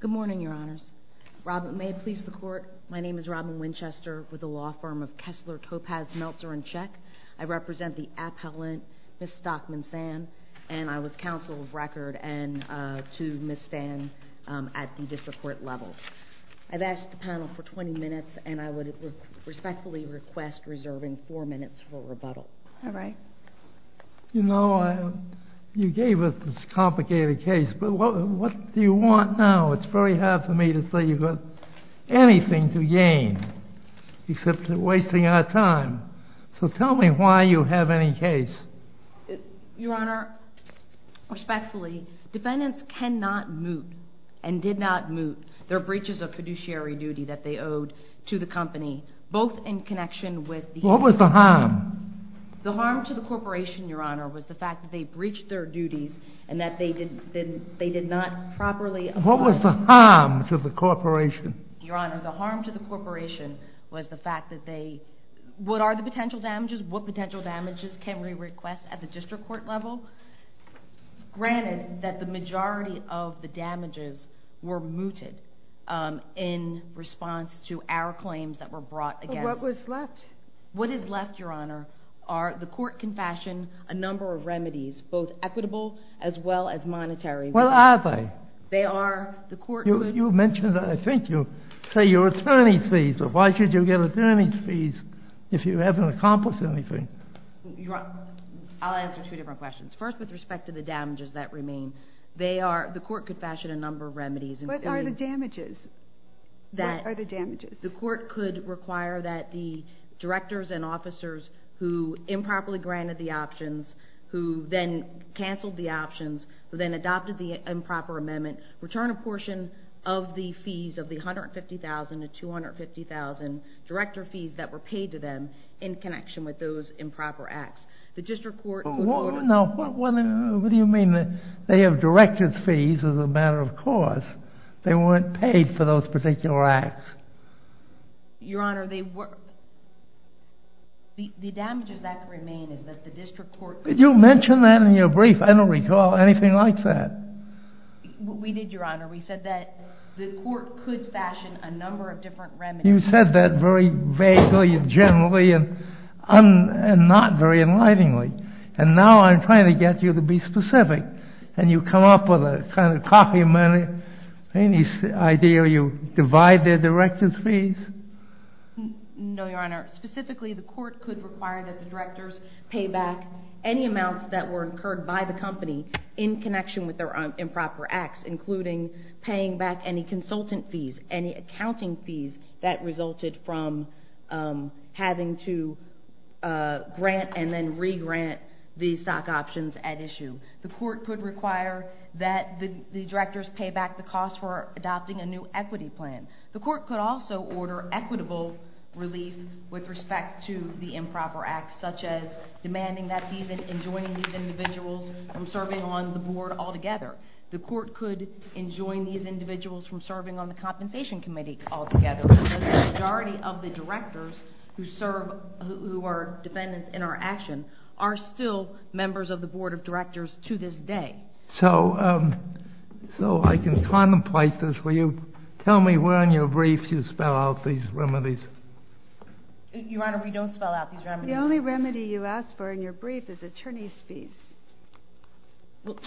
Good morning, Your Honors. May it please the Court, my name is Robin Winchester with the law firm of Kessler, Topaz, Meltzer & Cech. I represent the appellant, Ms. Stockman-Sann, and I was counsel of record to Ms. Sann at the district court level. I've asked the panel for 20 minutes, and I would respectfully request reserving 4 minutes for rebuttal. All right. You know, you gave us this complicated case, but what do you want now? It's very hard for me to say you've got anything to gain, except you're wasting our time. So tell me why you have any case. Your Honor, respectfully, defendants cannot moot, and did not moot, their breaches of fiduciary duty that they owed to the company, both in connection with the... What was the harm? The harm to the corporation, Your Honor, was the fact that they breached their duties, and that they did not properly... What was the harm to the corporation? Your Honor, the harm to the corporation was the fact that they... What are the potential damages? What potential damages can we request at the district court level? Granted, that the majority of the damages were mooted in response to our claims that were brought against... What was left? What is left, Your Honor, are the court confession, a number of remedies, both equitable as well as monetary. What are they? They are the court... You mentioned that, I think you say your attorney's fees, but why should you get attorney's fees if you haven't accomplished anything? I'll answer two different questions. First, with respect to the damages that remain, the court confession, a number of remedies... What are the damages? What are the damages? The court could require that the directors and officers who improperly granted the options, who then canceled the options, who then adopted the improper amendment, return a portion of the fees of the $150,000 to $250,000 director fees that were paid to them in connection with those improper acts. The district court... No, what do you mean that they have director's fees as a matter of course, they weren't paid for those particular acts? Your Honor, the damages that remain is that the district court... You mentioned that in your brief, I don't recall anything like that. We did, Your Honor. We said that the court could fashion a number of different remedies. You said that very vaguely and generally, and not very enlighteningly. And now I'm trying to get you to be specific, and you come up with a kind of copy of money. Any idea you divide their director's fees? No, Your Honor. Specifically, the court could require that the directors pay back any amounts that were paying back any consultant fees, any accounting fees that resulted from having to grant and then re-grant the stock options at issue. The court could require that the directors pay back the cost for adopting a new equity plan. The court could also order equitable relief with respect to the improper acts, such as demanding that fees and enjoining these individuals from serving on the board altogether. The court could enjoin these individuals from serving on the compensation committee altogether. Because the majority of the directors who are defendants in our action are still members of the board of directors to this day. So I can contemplate this, will you tell me where in your brief you spell out these remedies? Your Honor, we don't spell out these remedies. The only remedy you ask for in your brief is attorney's fees.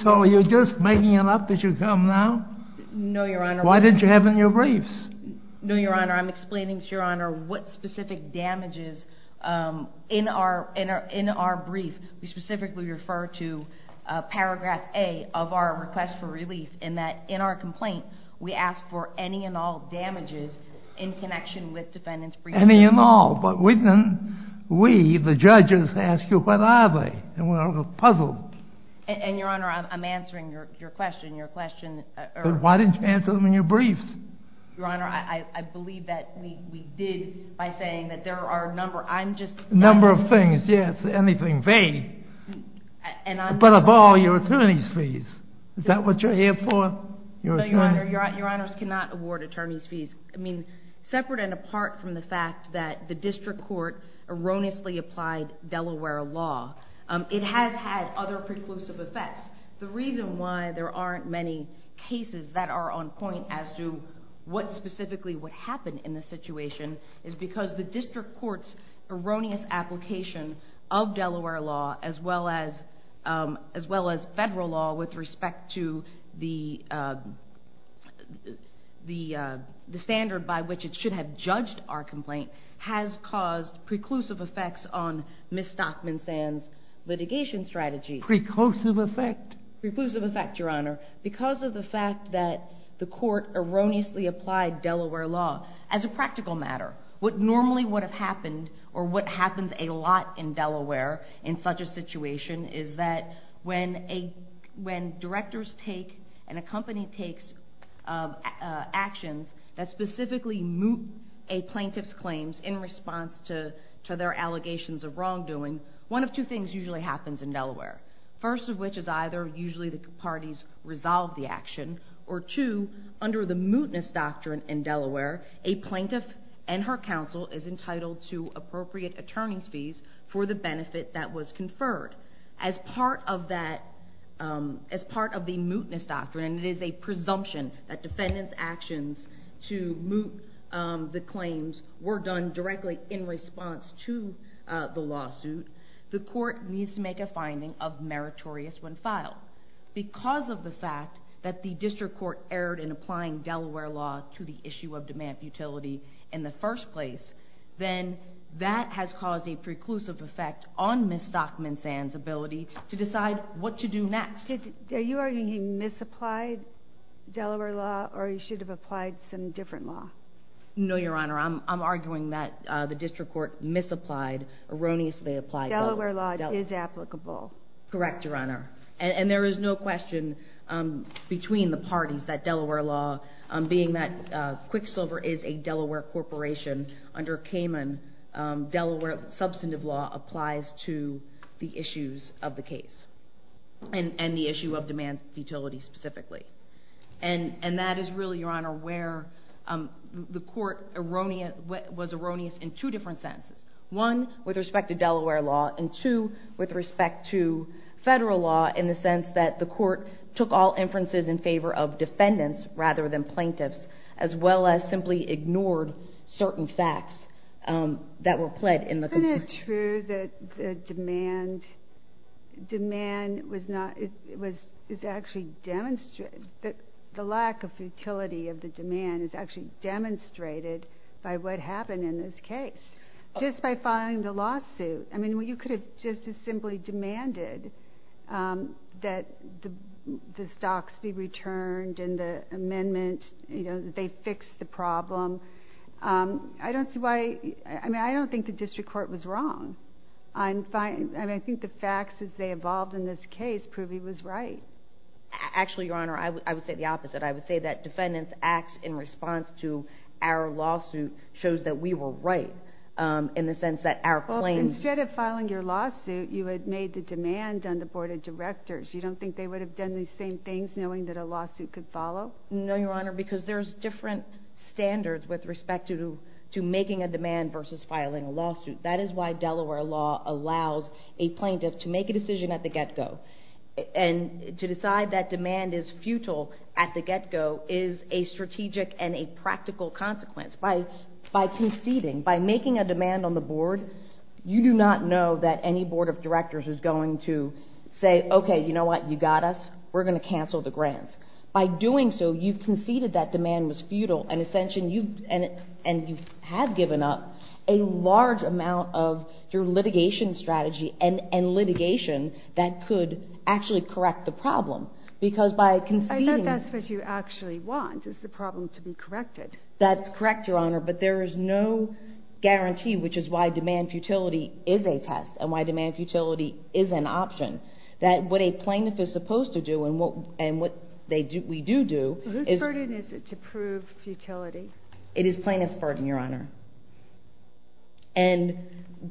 So are you just making it up as you come now? No, Your Honor. Why didn't you have it in your briefs? No, Your Honor. I'm explaining to Your Honor what specific damages in our brief, we specifically refer to paragraph A of our request for relief in that in our complaint, we ask for any and all damages in connection with defendant's brief. Any and all. But we, the judges, ask you what are they? And we're puzzled. And Your Honor, I'm answering your question. But why didn't you answer them in your briefs? Your Honor, I believe that we did by saying that there are a number. A number of things, yes. Anything vague. But of all, your attorney's fees. Is that what you're here for? No, Your Honor. Your Honors cannot award attorney's fees. I mean, separate and apart from the fact that the district court erroneously applied Delaware law, it has had other preclusive effects. The reason why there aren't many cases that are on point as to what specifically would happen in this situation is because the district court's erroneous application of Delaware law, as well as federal law with respect to the standard by which it should have judged our complaint, has caused preclusive effects on Ms. Stockman-Sand's litigation strategy. Preclusive effect? Preclusive effect, Your Honor. Because of the fact that the court erroneously applied Delaware law, as a practical matter, what normally would have happened, or what happens a lot in Delaware in such a situation, is that when directors take and a company takes actions that specifically moot a plaintiff's claims in response to their allegations of wrongdoing, one of two things usually happens in Delaware. First of which is either usually the parties resolve the action, or two, under the mootness doctrine in Delaware, a plaintiff and her counsel is entitled to appropriate attorney's fees for the benefit that was conferred. As part of that, as part of the mootness doctrine, it is a presumption that defendants' actions to moot the claims were done directly in response to the lawsuit, the court needs to make a finding of meritorious when filed. Because of the fact that the district court erred in applying Delaware law to the issue of demand utility in the first place, then that has caused a preclusive effect on Ms. Stockman-Sand's ability to decide what to do next. Are you arguing he misapplied Delaware law or he should have applied some different law? No, Your Honor. I'm arguing that the district court misapplied, erroneously applied Delaware law. Delaware law is applicable. Correct, Your Honor. And there is no question between the parties that Delaware law, being that Quicksilver is a Delaware corporation, under Cayman, Delaware substantive law applies to the issues of the case, and the issue of demand utility specifically. And that is really, Your Honor, where the court was erroneous in two different senses. One, with respect to Delaware law, and two, with respect to federal law in the sense that the court took all inferences in favor of defendants rather than plaintiffs, as well as simply ignored certain facts that were pled in the complaint. Isn't it true that the demand was not, it was actually demonstrated, the lack of utility of the case, just by filing the lawsuit? I mean, you could have just as simply demanded that the stocks be returned and the amendment, you know, that they fix the problem. I don't see why, I mean, I don't think the district court was wrong. I think the facts as they evolved in this case prove he was right. Actually, Your Honor, I would say the opposite. I would say that defendants' acts in response to our lawsuit shows that we were right. In the sense that our claim... Well, instead of filing your lawsuit, you had made the demand on the board of directors. You don't think they would have done these same things knowing that a lawsuit could follow? No, Your Honor, because there's different standards with respect to making a demand versus filing a lawsuit. That is why Delaware law allows a plaintiff to make a decision at the get-go. And to decide that demand is futile at the get-go is a strategic and a practical consequence. By conceding, by making a demand on the board, you do not know that any board of directors is going to say, okay, you know what, you got us, we're going to cancel the grants. By doing so, you've conceded that demand was futile, and you have given up a large amount of your correct the problem, because by conceding... I thought that's what you actually want, is the problem to be corrected. That's correct, Your Honor, but there is no guarantee, which is why demand futility is a test, and why demand futility is an option. That what a plaintiff is supposed to do and what we do do is... Whose burden is it to prove futility? It is plaintiff's burden, Your Honor. And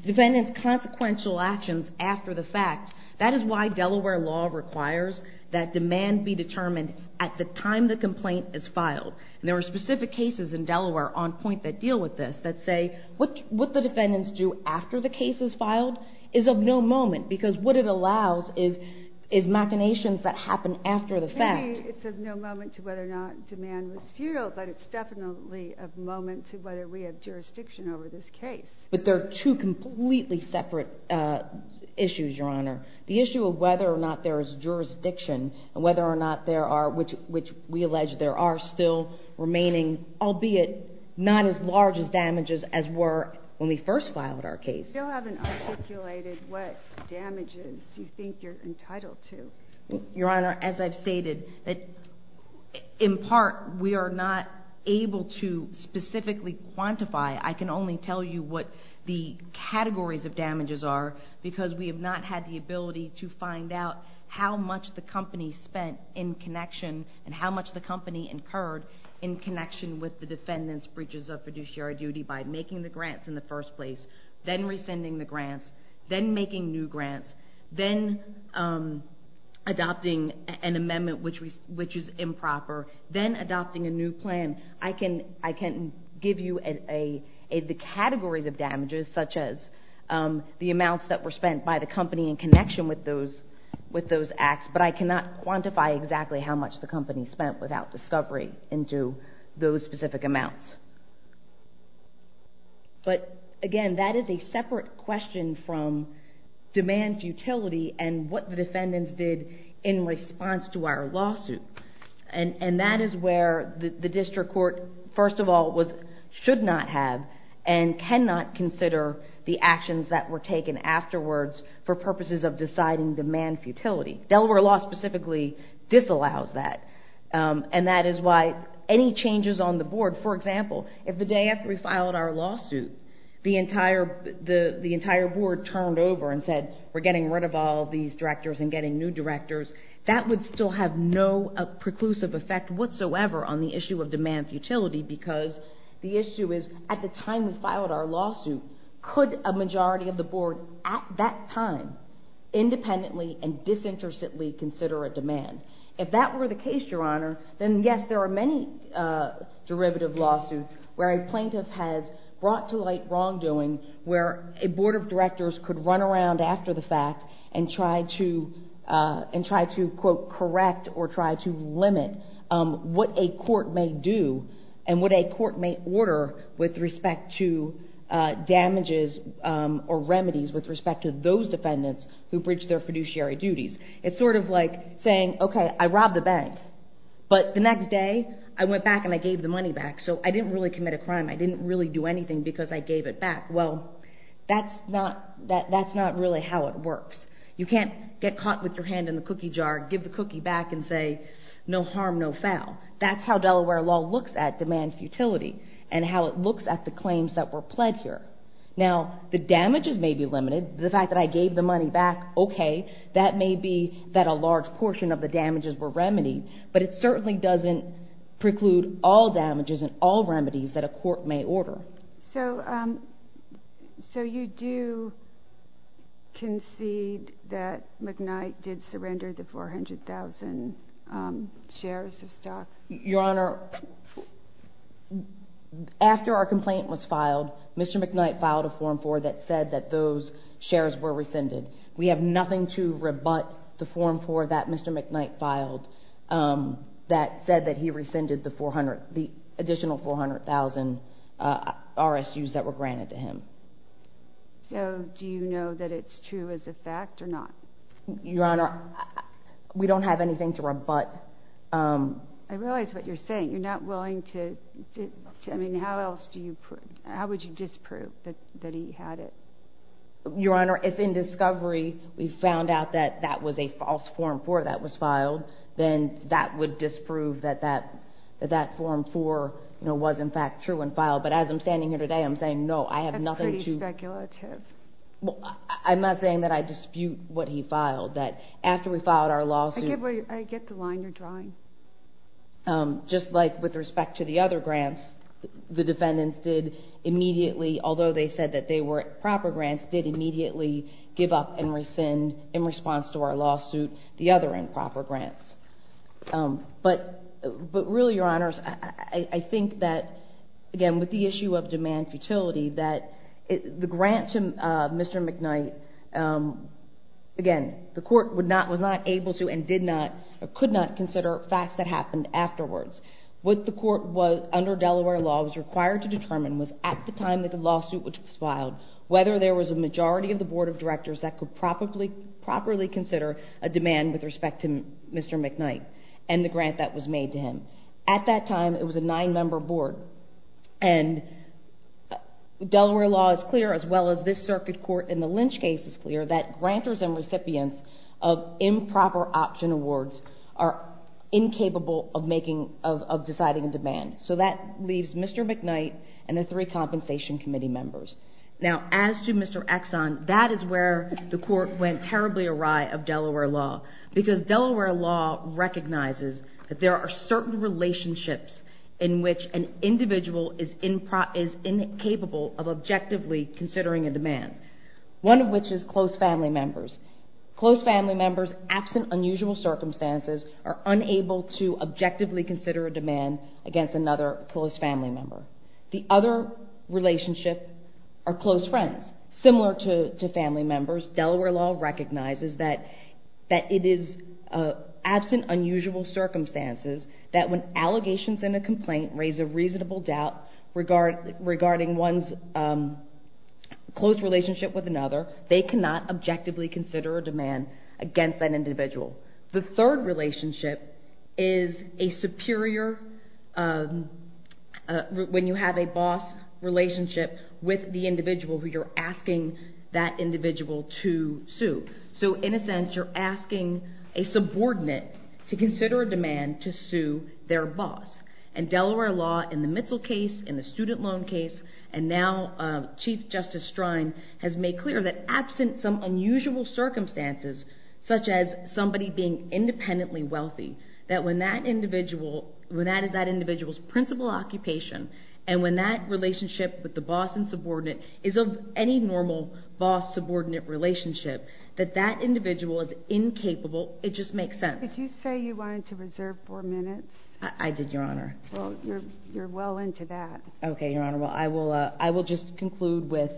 defendants' consequential actions after the fact, that is why Delaware law requires that demand be determined at the time the complaint is filed. There are specific cases in Delaware on point that deal with this that say, what the defendants do after the case is filed is of no moment, because what it allows is machinations that happen after the fact. Maybe it's of no moment to whether or not demand was futile, but it's definitely of moment to whether we have jurisdiction over this case. But there are two completely separate issues, Your Honor. The issue of whether or not there is jurisdiction and whether or not there are, which we allege there are still remaining, albeit not as large as damages as were when we first filed our case. You still haven't articulated what damages you think you're entitled to. Your Honor, as I've stated, in part we are not able to specifically quantify. I can only tell you what the categories of damages are, because we have not had the ability to find out how much the company spent in connection and how much the company incurred in connection with the defendants' breaches of fiduciary duty by making the grants in the first place, then rescinding the grants, then making new grants, then adopting an amendment which is improper, then adopting a new plan. I can give you the categories of damages, such as the amounts that were spent by the company in connection with those acts, but I cannot quantify exactly how much the company spent without discovery into those specific amounts. But, again, that is a separate question from demand futility and what the defendants did in response to our lawsuit. And that is where the district court, first of all, should not have and cannot consider the actions that were taken afterwards for purposes of deciding demand futility. Delaware law specifically disallows that, and that is why any changes on the board, for example, if the day after we filed our lawsuit the entire board turned over and said, we're getting rid of all these directors and getting new directors, that would still have no preclusive effect whatsoever on the issue of demand futility because the issue is, at the time we filed our lawsuit, could a majority of the board at that time independently and disinterestedly consider a demand? If that were the case, Your Honor, then, yes, there are many derivative lawsuits where a plaintiff has brought to light wrongdoing where a board of directors could run around after the fact and try to, quote, correct or try to limit what a court may do and what a court may order with respect to damages or remedies with respect to those defendants who breached their fiduciary duties. It's sort of like saying, okay, I robbed a bank, but the next day I went back and I gave the money back, so I didn't really commit a crime. I didn't really do anything because I gave it back. Well, that's not really how it works. You can't get caught with your hand in the cookie jar, give the cookie back, and say, no harm, no foul. That's how Delaware law looks at demand futility and how it looks at the claims that were pled here. Now, the damages may be limited, the fact that I gave the money back, okay, that may be that a large portion of the damages were remedied, but it certainly doesn't preclude all damages and all remedies that a court may order. So you do concede that McKnight did surrender the 400,000 shares of stock? Your Honor, after our complaint was filed, Mr. McKnight filed a Form 4 that said that those shares were rescinded. We have nothing to rebut the Form 4 that Mr. McKnight filed that said that he rescinded the additional 400,000 RSUs that were granted to him. So do you know that it's true as a fact or not? Your Honor, we don't have anything to rebut. I realize what you're saying. How else would you disprove that he had it? Your Honor, if in discovery we found out that that was a false Form 4 that was filed, then that would disprove that that Form 4 was in fact true and filed. But as I'm standing here today, I'm saying no, I have nothing to— That's pretty speculative. I'm not saying that I dispute what he filed. I get the line you're drawing. Just like with respect to the other grants, the defendants did immediately, although they said that they were proper grants, did immediately give up and rescind in response to our lawsuit the other improper grants. But really, Your Honors, I think that, again, with the issue of demand futility, that the grant to Mr. McKnight, again, the court was not able to and did not or could not consider facts that happened afterwards. What the court was, under Delaware law, was required to determine was at the time that the lawsuit was filed, whether there was a majority of the Board of Directors that could properly consider a demand with respect to Mr. McKnight and the grant that was made to him. At that time, it was a nine-member board. And Delaware law is clear, as well as this circuit court in the Lynch case is clear, that grantors and recipients of improper option awards are incapable of deciding a demand. So that leaves Mr. McKnight and the three compensation committee members. Now, as to Mr. Exxon, that is where the court went terribly awry of Delaware law, because Delaware law recognizes that there are certain relationships One of which is close family members. Close family members, absent unusual circumstances, are unable to objectively consider a demand against another close family member. The other relationship are close friends. Similar to family members, Delaware law recognizes that it is absent unusual circumstances that when allegations in a complaint raise a reasonable doubt regarding one's close relationship with another, they cannot objectively consider a demand against that individual. The third relationship is a superior, when you have a boss relationship with the individual who you're asking that individual to sue. So in a sense, you're asking a subordinate to consider a demand to sue their boss. And Delaware law, in the Mitchell case, in the student loan case, and now Chief Justice Strine, has made clear that absent some unusual circumstances, such as somebody being independently wealthy, that when that is that individual's principal occupation, and when that relationship with the boss and subordinate is of any normal boss-subordinate relationship, that that individual is incapable, it just makes sense. Did you say you wanted to reserve four minutes? I did, Your Honor. Well, you're well into that. Okay, Your Honor. Well, I will just conclude with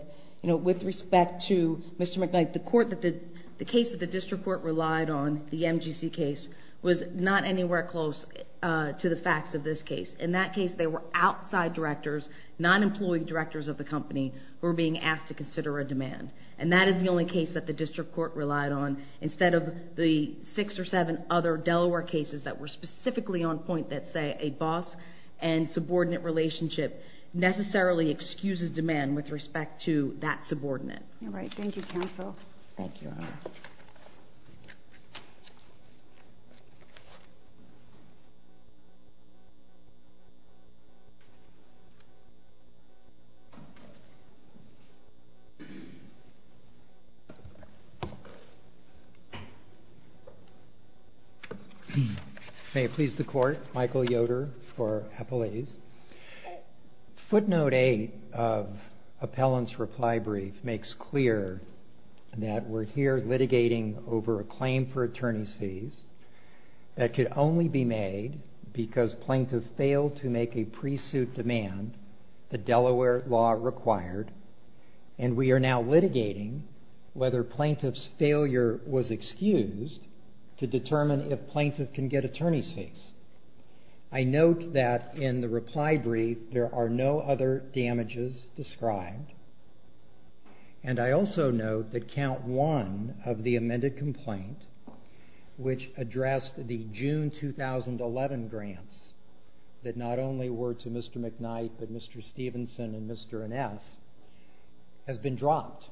respect to Mr. McKnight. The case that the district court relied on, the MGC case, was not anywhere close to the facts of this case. In that case, they were outside directors, non-employee directors of the company, who were being asked to consider a demand. And that is the only case that the district court relied on instead of the six or seven other Delaware cases that were specifically on point that, say, a boss and subordinate relationship necessarily excuses demand with respect to that subordinate. All right. Thank you, counsel. Thank you, Your Honor. May it please the court, Michael Yoder for appellees. Footnote 8 of appellant's reply brief makes clear that we're here litigating over a claim for attorney's fees that could only be made because plaintiff failed to make a pre-suit demand, the Delaware law required, and we are now litigating whether plaintiff's failure was excused to determine if plaintiff can get attorney's fees. I note that in the reply brief there are no other damages described, and I also note that count one of the amended complaint, which addressed the June 2011 grants that not only were to Mr. McKnight but Mr. Stevenson and Mr. Ines, has been dropped.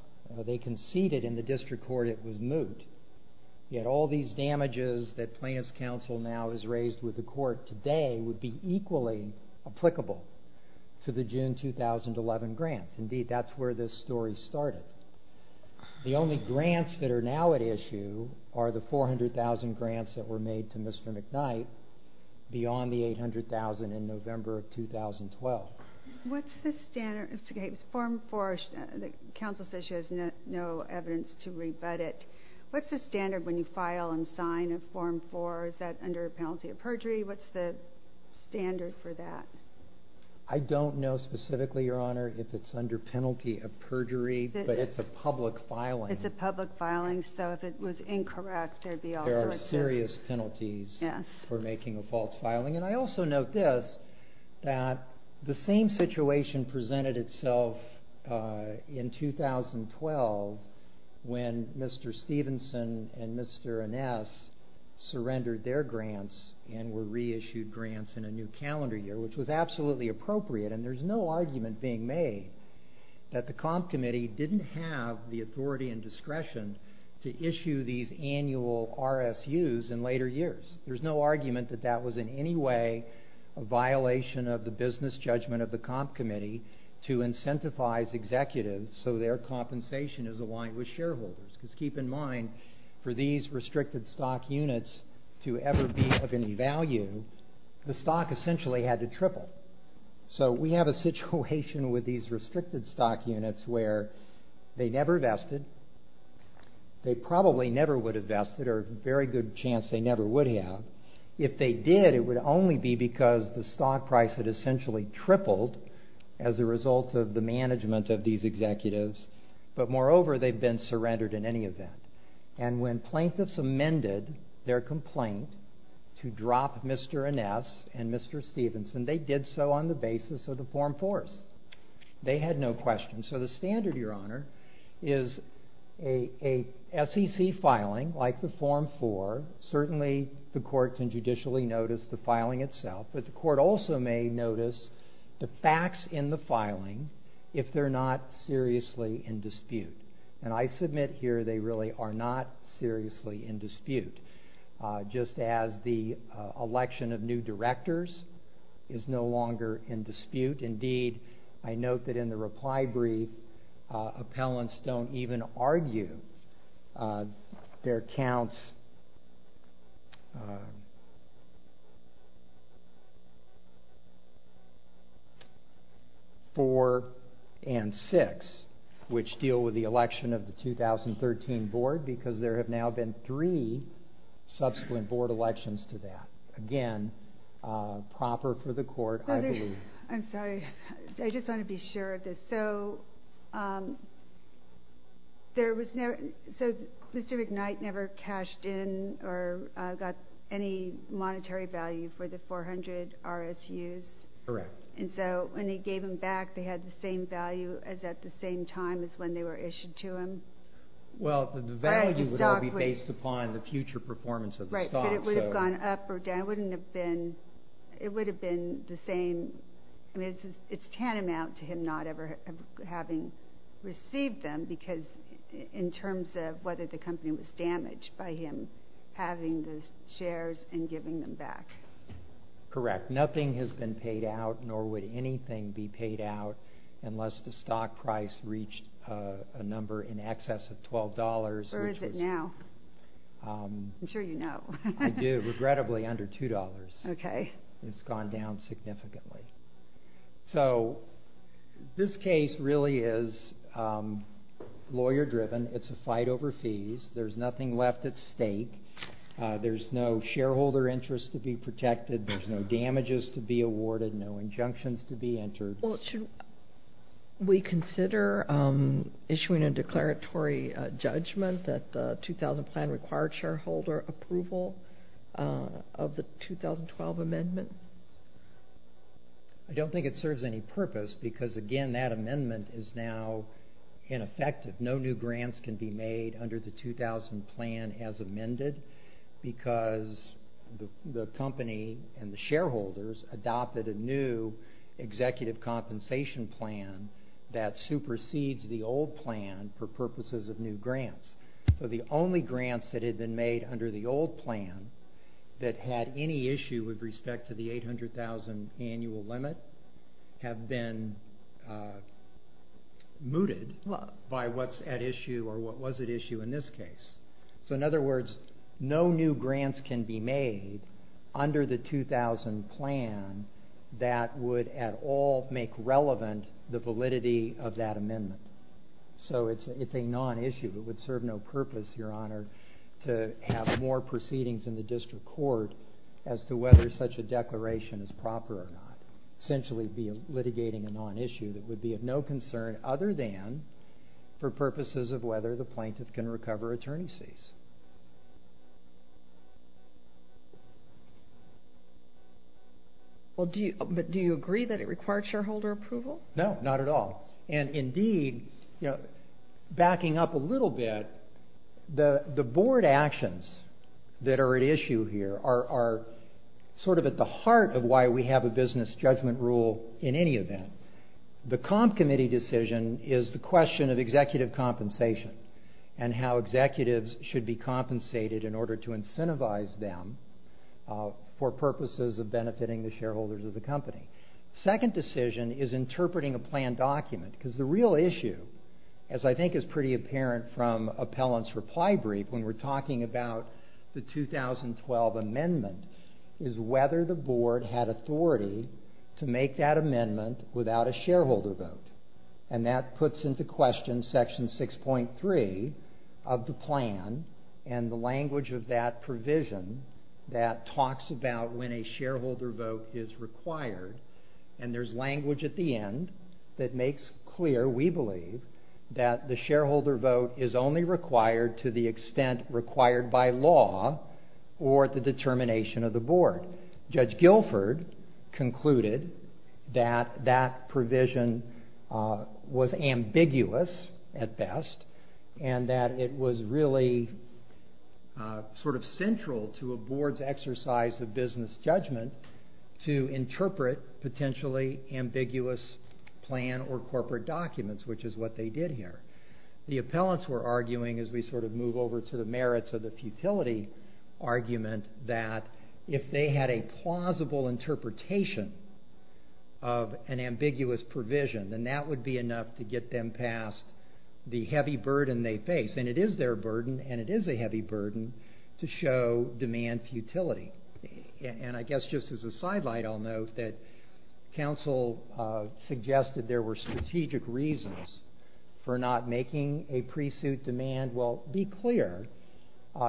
They conceded in the district court it was moot. Yet all these damages that plaintiff's counsel now has raised with the court today would be equally applicable to the June 2011 grants. Indeed, that's where this story started. The only grants that are now at issue are the 400,000 grants that were made to Mr. McKnight beyond the 800,000 in November of 2012. What's the standard? Mr. Gates, form four, the counsel says she has no evidence to rebut it. What's the standard when you file and sign a form four? Is that under a penalty of perjury? What's the standard for that? I don't know specifically, Your Honor, if it's under penalty of perjury, but it's a public filing. It's a public filing, so if it was incorrect there would be all sorts of... There are serious penalties for making a false filing. I also note this, that the same situation presented itself in 2012 when Mr. Stevenson and Mr. Aness surrendered their grants and were reissued grants in a new calendar year, which was absolutely appropriate, and there's no argument being made that the comp committee didn't have the authority and discretion to issue these annual RSUs in later years. There's no argument that that was in any way a violation of the business judgment of the comp committee to incentivize executives so their compensation is aligned with shareholders. Because keep in mind, for these restricted stock units to ever be of any value, the stock essentially had to triple. So we have a situation with these restricted stock units where they never vested, they probably never would have vested, but there's a very good chance they never would have. If they did, it would only be because the stock price had essentially tripled as a result of the management of these executives, but moreover they've been surrendered in any event. And when plaintiffs amended their complaint to drop Mr. Aness and Mr. Stevenson, they did so on the basis of the Form 4s. They had no questions. So the standard, Your Honor, is a SEC filing like the Form 4, certainly the court can judicially notice the filing itself, but the court also may notice the facts in the filing if they're not seriously in dispute. And I submit here they really are not seriously in dispute, just as the election of new directors is no longer in dispute. Indeed, I note that in the reply brief, appellants don't even argue their counts 4 and 6, which deal with the election of the 2013 board because there have now been three subsequent board elections to that. Again, proper for the court, I believe. I'm sorry. I just want to be sure of this. So Mr. McKnight never cashed in or got any monetary value for the 400 RSUs? Correct. And so when they gave them back, they had the same value as at the same time as when they were issued to him? Well, the value would all be based upon the future performance of the stock. Right, but it would have gone up or down. It would have been the same. It's tantamount to him not ever having received them because in terms of whether the company was damaged by him having the shares and giving them back. Correct. Nothing has been paid out, nor would anything be paid out, unless the stock price reached a number in excess of $12. Where is it now? I'm sure you know. I do. It's regrettably under $2. Okay. It's gone down significantly. So this case really is lawyer-driven. It's a fight over fees. There's nothing left at stake. There's no shareholder interest to be protected. There's no damages to be awarded, no injunctions to be entered. Well, should we consider issuing a declaratory judgment that the 2000 plan required shareholder approval of the 2012 amendment? I don't think it serves any purpose because, again, that amendment is now ineffective. No new grants can be made under the 2000 plan as amended because the company and the shareholders adopted a new executive compensation plan that supersedes the old plan for purposes of new grants. So the only grants that had been made under the old plan that had any issue with respect to the $800,000 annual limit have been mooted by what's at issue or what was at issue in this case. So, in other words, no new grants can be made under the 2000 plan that would at all make relevant the validity of that amendment. So it's a non-issue. It would serve no purpose, Your Honor, to have more proceedings in the district court as to whether such a declaration is proper or not, essentially be litigating a non-issue that would be of no concern other than for purposes of whether the plaintiff can recover attorney's fees. But do you agree that it required shareholder approval? No, not at all. And indeed, backing up a little bit, the board actions that are at issue here are sort of at the heart of why we have a business judgment rule in any event. The comp committee decision is the question of executive compensation and how executives should be compensated in order to incentivize them for purposes of benefiting the shareholders of the company. Second decision is interpreting a plan document because the real issue, as I think is pretty apparent from appellant's reply brief when we're talking about the 2012 amendment, is whether the board had authority to make that amendment without a shareholder vote. And that puts into question section 6.3 of the plan and the language of that provision that talks about when a shareholder vote is required. And there's language at the end that makes clear, we believe, that the shareholder vote is only required to the extent required by law or at the determination of the board. Judge Guilford concluded that that provision was ambiguous at best and that it was really sort of central to a board's exercise of business judgment to interpret potentially ambiguous plan or corporate documents, which is what they did here. The appellants were arguing, as we sort of move over to the merits of the futility argument, that if they had a plausible interpretation of an ambiguous provision, then that would be enough to get them past the heavy burden they face. And it is their burden, and it is a heavy burden, to show demand futility. And I guess just as a sidelight, I'll note that counsel suggested there were strategic reasons for not making a pre-suit demand. Well, be clear,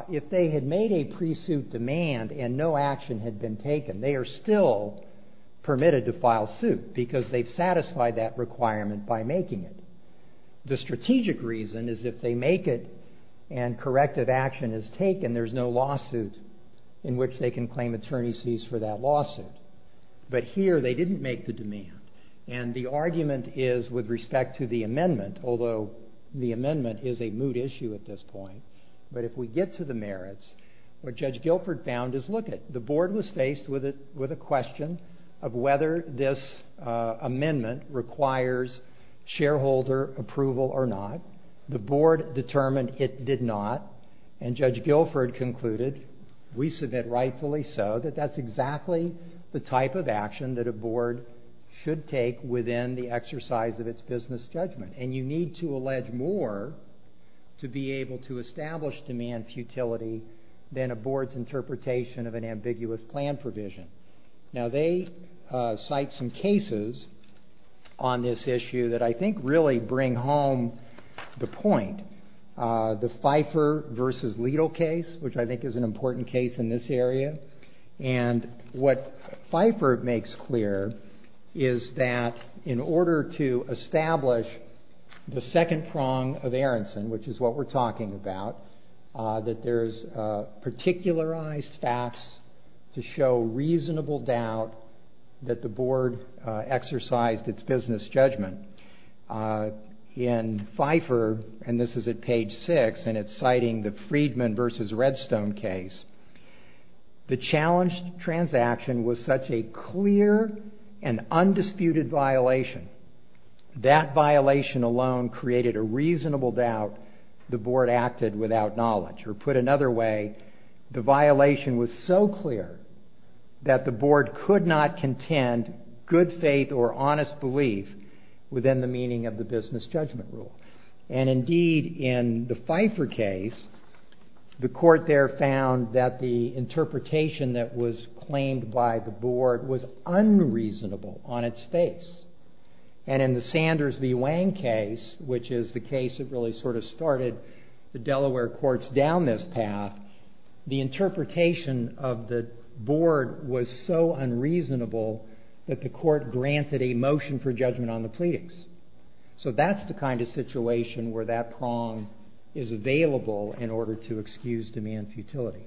if they had made a pre-suit demand and no action had been taken, they are still permitted to file suit because they've satisfied that requirement by making it. The strategic reason is if they make it and corrective action is taken, there's no lawsuit in which they can claim attorney's fees for that lawsuit. But here they didn't make the demand. And the argument is with respect to the amendment, although the amendment is a moot issue at this point, but if we get to the merits, what Judge Guilford found is, lookit, the board was faced with a question of whether this amendment requires shareholder approval or not. The board determined it did not. And Judge Guilford concluded, we submit rightfully so, that that's exactly the type of action that a board should take within the exercise of its business judgment. And you need to allege more to be able to establish demand futility than a board's interpretation of an ambiguous plan provision. Now they cite some cases on this issue that I think really bring home the point. The Pfeiffer v. Leto case, which I think is an important case in this area. And what Pfeiffer makes clear is that in order to establish the second prong of Aronson, which is what we're talking about, that there's particularized facts to show reasonable doubt that the board exercised its business judgment. In Pfeiffer, and this is at page 6, and it's citing the Friedman v. Redstone case, the challenged transaction was such a clear and undisputed violation, that violation alone created a reasonable doubt the board acted without knowledge. Or put another way, the violation was so clear that the board could not contend good faith or honest belief within the meaning of the business judgment rule. And indeed, in the Pfeiffer case, the court there found that the interpretation that was claimed by the board was unreasonable on its face. And in the Sanders v. Wang case, which is the case that really sort of started the Delaware courts down this path, the interpretation of the board was so unreasonable that the court granted a motion for judgment on the pleadings. So that's the kind of situation where that prong is available in order to excuse demand futility.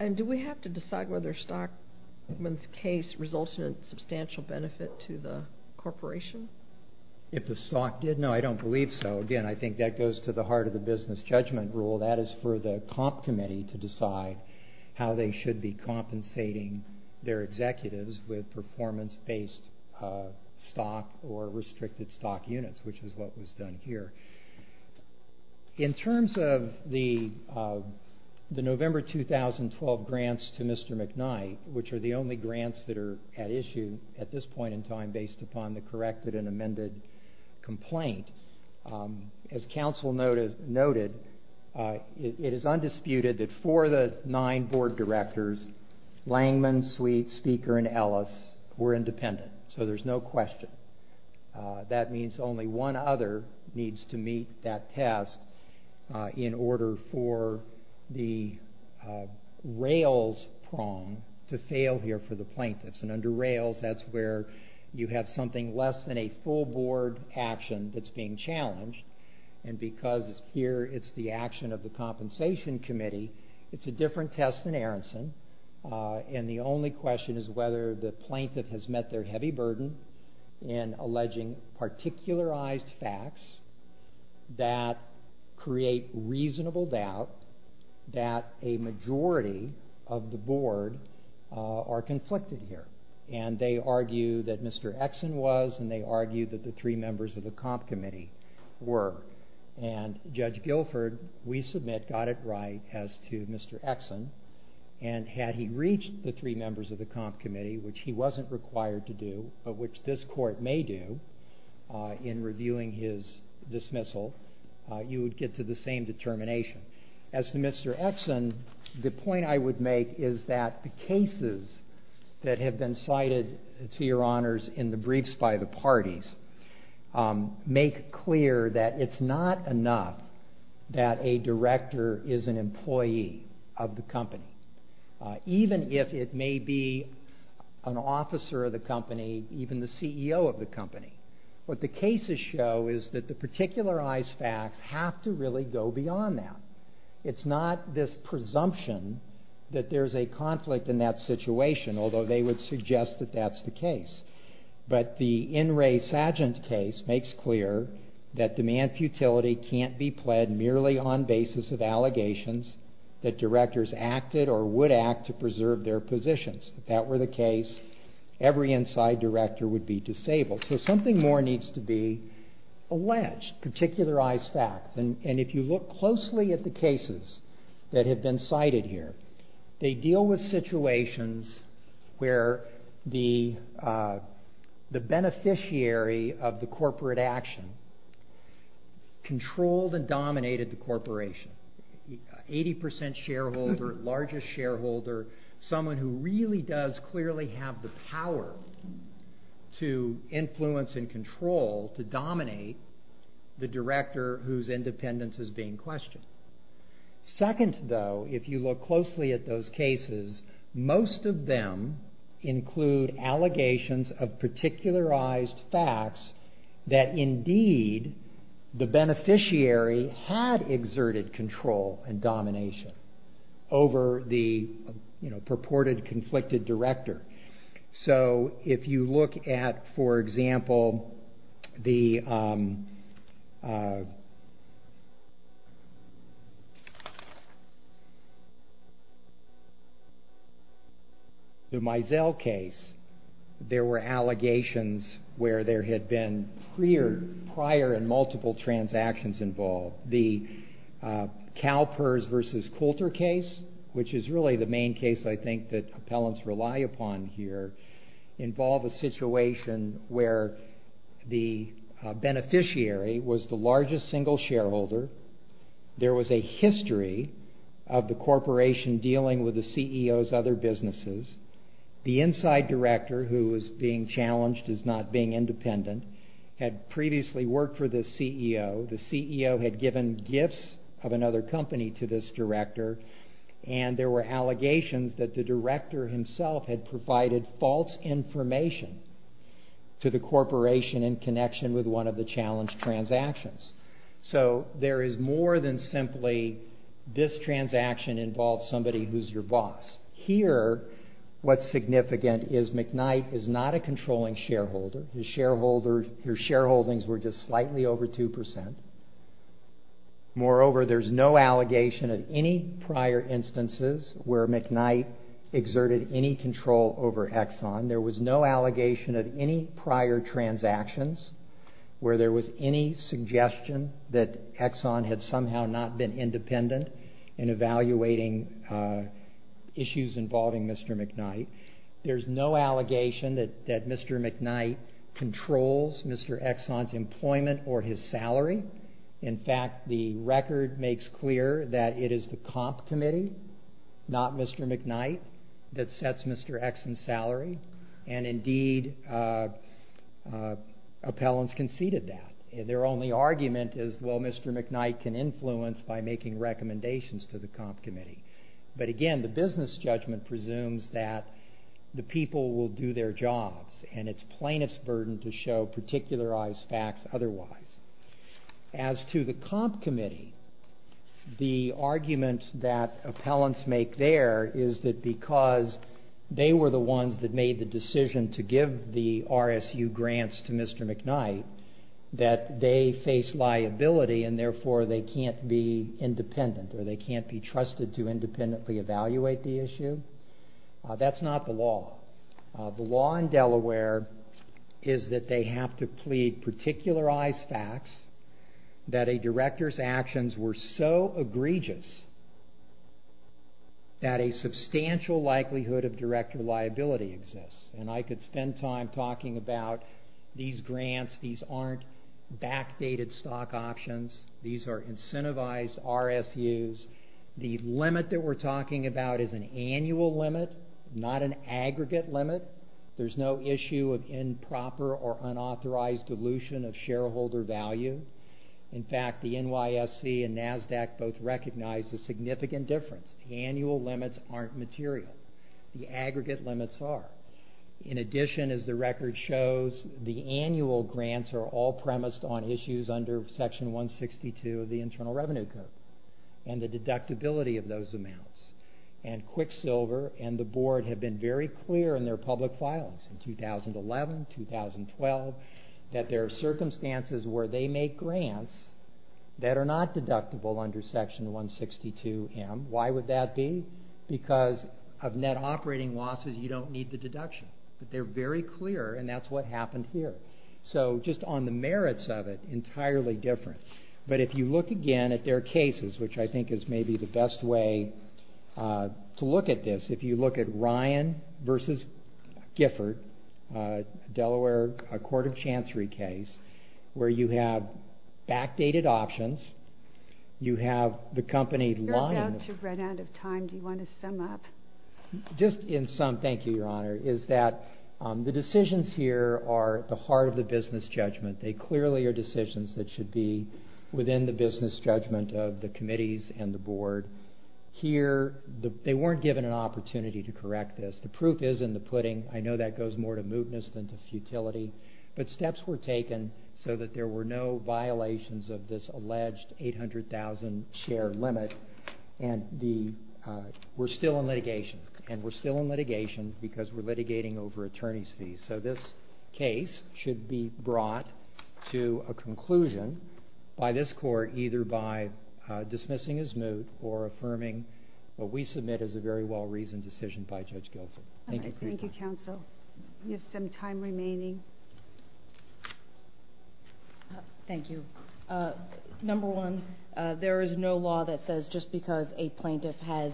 And do we have to decide whether Stockman's case resulted in substantial benefit to the corporation? If the stock did? No, I don't believe so. Again, I think that goes to the heart of the business judgment rule. That is for the comp committee to decide how they should be compensating their executives with performance-based stock or restricted stock units, which is what was done here. In terms of the November 2012 grants to Mr. McKnight, which are the only grants that are at issue at this point in time based upon the corrected and amended complaint, as counsel noted, it is undisputed that for the nine board directors, Langman, Sweet, Speaker, and Ellis were independent. So there's no question. That means only one other needs to meet that test in order for the rails prong to fail here for the plaintiffs. And under rails, that's where you have something less than a full board action that's being challenged. And because here it's the action of the compensation committee, it's a different test than Aronson. And the only question is whether the plaintiff has met their heavy burden in alleging particularized facts that create reasonable doubt that a majority of the board are conflicted here. And they argue that Mr. Exon was, and they argue that the three members of the comp committee were. And Judge Guilford, we submit, got it right as to Mr. Exon. And had he reached the three members of the comp committee, which he wasn't required to do, but which this court may do in reviewing his dismissal, you would get to the same determination. As to Mr. Exon, the point I would make is that the cases that have been cited, to your honors, in the briefs by the parties, make clear that it's not enough that a director is an employee of the company, even if it may be an officer of the company, even the CEO of the company. What the cases show is that the particularized facts have to really go beyond that. It's not this presumption that there's a conflict in that situation, although they would suggest that that's the case. But the In Re Sagent case makes clear that demand futility can't be pled merely on basis of allegations that directors acted or would act to preserve their positions. If that were the case, every inside director would be disabled. So something more needs to be alleged, particularized facts. And if you look closely at the cases that have been cited here, they deal with situations where the beneficiary of the corporate action controlled and dominated the corporation. 80% shareholder, largest shareholder, someone who really does clearly have the power to influence and control, to dominate, the director whose independence is being questioned. Second, though, if you look closely at those cases, most of them include allegations of particularized facts that indeed the beneficiary had exerted control and domination over the purported conflicted director. So if you look at, for example, the Meisel case, there were allegations where there had been prior and multiple transactions involved. The CalPERS v. Coulter case, which is really the main case I think that appellants rely upon here, involve a situation where the beneficiary was the largest single shareholder. There was a history of the corporation dealing with the CEO's other businesses. The inside director, who was being challenged as not being independent, had previously worked for this CEO. The CEO had given gifts of another company to this director, and there were allegations that the director himself had provided false information to the corporation in connection with one of the challenged transactions. So there is more than simply this transaction involves somebody who's your boss. Here, what's significant is McKnight is not a controlling shareholder. His shareholdings were just slightly over 2%. Moreover, there's no allegation of any prior instances where McKnight exerted any control over Exxon. There was no allegation of any prior transactions where there was any suggestion that Exxon had somehow not been independent in evaluating issues involving Mr. McKnight. There's no allegation that Mr. McKnight controls Mr. Exxon's employment or his salary. In fact, the record makes clear that it is the comp committee, not Mr. McKnight, that sets Mr. Exxon's salary, and indeed appellants conceded that. Their only argument is, well, Mr. McKnight can influence by making recommendations to the comp committee. But again, the business judgment presumes that the people will do their jobs, and it's plaintiff's burden to show particularized facts otherwise. As to the comp committee, the argument that appellants make there is that because they were the ones that made the decision to give the RSU grants to Mr. McKnight, that they face liability, and therefore they can't be independent or they can't be trusted to independently evaluate the issue. That's not the law. The law in Delaware is that they have to plead particularized facts that a director's actions were so egregious that a substantial likelihood of director liability exists. And I could spend time talking about these grants. These aren't backdated stock options. These are incentivized RSUs. The limit that we're talking about is an annual limit, not an aggregate limit. There's no issue of improper or unauthorized dilution of shareholder value. In fact, the NYSC and NASDAQ both recognize the significant difference. The annual limits aren't material. The aggregate limits are. In addition, as the record shows, the annual grants are all premised on issues under Section 162 of the Internal Revenue Code and the deductibility of those amounts. And Quicksilver and the Board have been very clear in their public filings in 2011, 2012, that there are circumstances where they make grants that are not deductible under Section 162M. Why would that be? Because of net operating losses, you don't need the deduction. But they're very clear, and that's what happened here. So just on the merits of it, entirely different. But if you look again at their cases, which I think is maybe the best way to look at this, if you look at Ryan v. Gifford, Delaware Court of Chancery case, where you have backdated options, you have the company lying... You're about to run out of time. Do you want to sum up? Just in sum, thank you, Your Honor, is that the decisions here are at the heart of the business judgment. They clearly are decisions that should be within the business judgment of the committees and the Board. Here, they weren't given an opportunity to correct this. The proof is in the pudding. I know that goes more to mootness than to futility. But steps were taken so that there were no violations of this alleged 800,000 share limit, and we're still in litigation. And we're still in litigation because we're litigating over attorneys' fees. So this case should be brought to a conclusion by this court either by dismissing as moot or affirming what we submit as a very well-reasoned decision by Judge Guilford. Thank you. Thank you, counsel. We have some time remaining. Thank you. Number one, there is no law that says just because a plaintiff has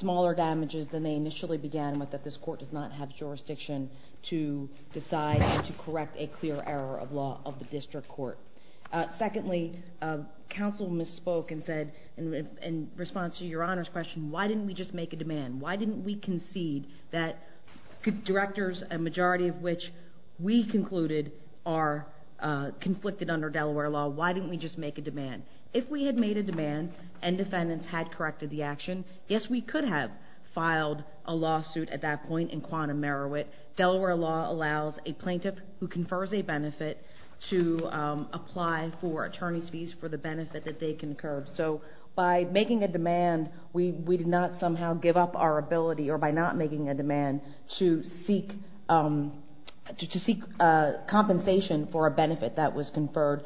smaller damages than they initially began with that this court does not have jurisdiction to decide and to correct a clear error of law of the district court. Secondly, counsel misspoke and said in response to your Honor's question, why didn't we just make a demand? Why didn't we concede that directors, a majority of which we concluded are conflicted under Delaware law, why didn't we just make a demand? If we had made a demand and defendants had corrected the action, yes, we could have filed a lawsuit at that point in quantum merit. Delaware law allows a plaintiff who confers a benefit to apply for attorney's fees for the benefit that they concurred. So by making a demand, we did not somehow give up our ability or by not making a demand to seek compensation for a benefit that was conferred.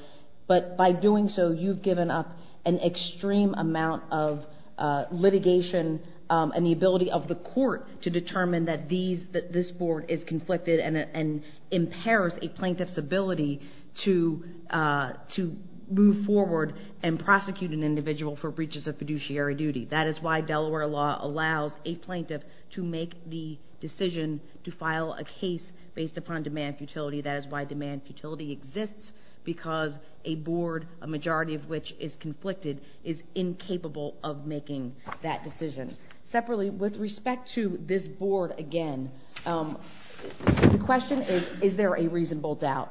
But by doing so, you've given up an extreme amount of litigation and the ability of the court to determine that this board is conflicted and impairs a plaintiff's ability to move forward and prosecute an individual for breaches of fiduciary duty. That is why Delaware law allows a plaintiff to make the decision to file a case based upon demand futility. That is why demand futility exists because a board, a majority of which is conflicted, is incapable of making that decision. Separately, with respect to this board again, the question is, is there a reasonable doubt?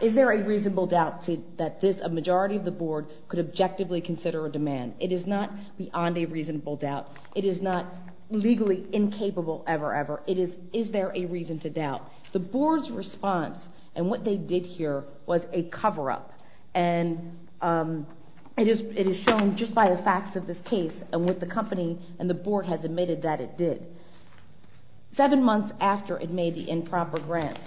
Is there a reasonable doubt that a majority of the board could objectively consider a demand? It is not beyond a reasonable doubt. It is not legally incapable ever, ever. It is, is there a reason to doubt? The board's response and what they did here was a cover-up. And it is shown just by the facts of this case and what the company and the board has admitted that it did. Seven months after it made the improper grants,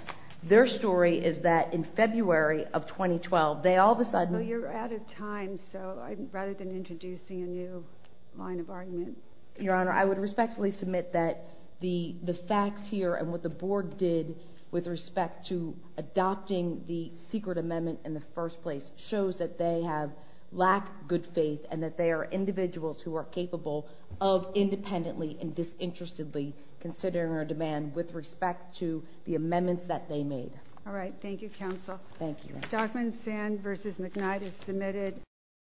their story is that in February of 2012, they all of a sudden... Well, you're out of time, so rather than introducing a new line of argument... Your Honor, I would respectfully submit that the facts here and what the board did with respect to adopting the secret amendment in the first place shows that they have lacked good faith and that they are individuals who are capable of independently and disinterestedly considering a demand with respect to the amendments that they made. All right. Thank you, counsel. Thank you.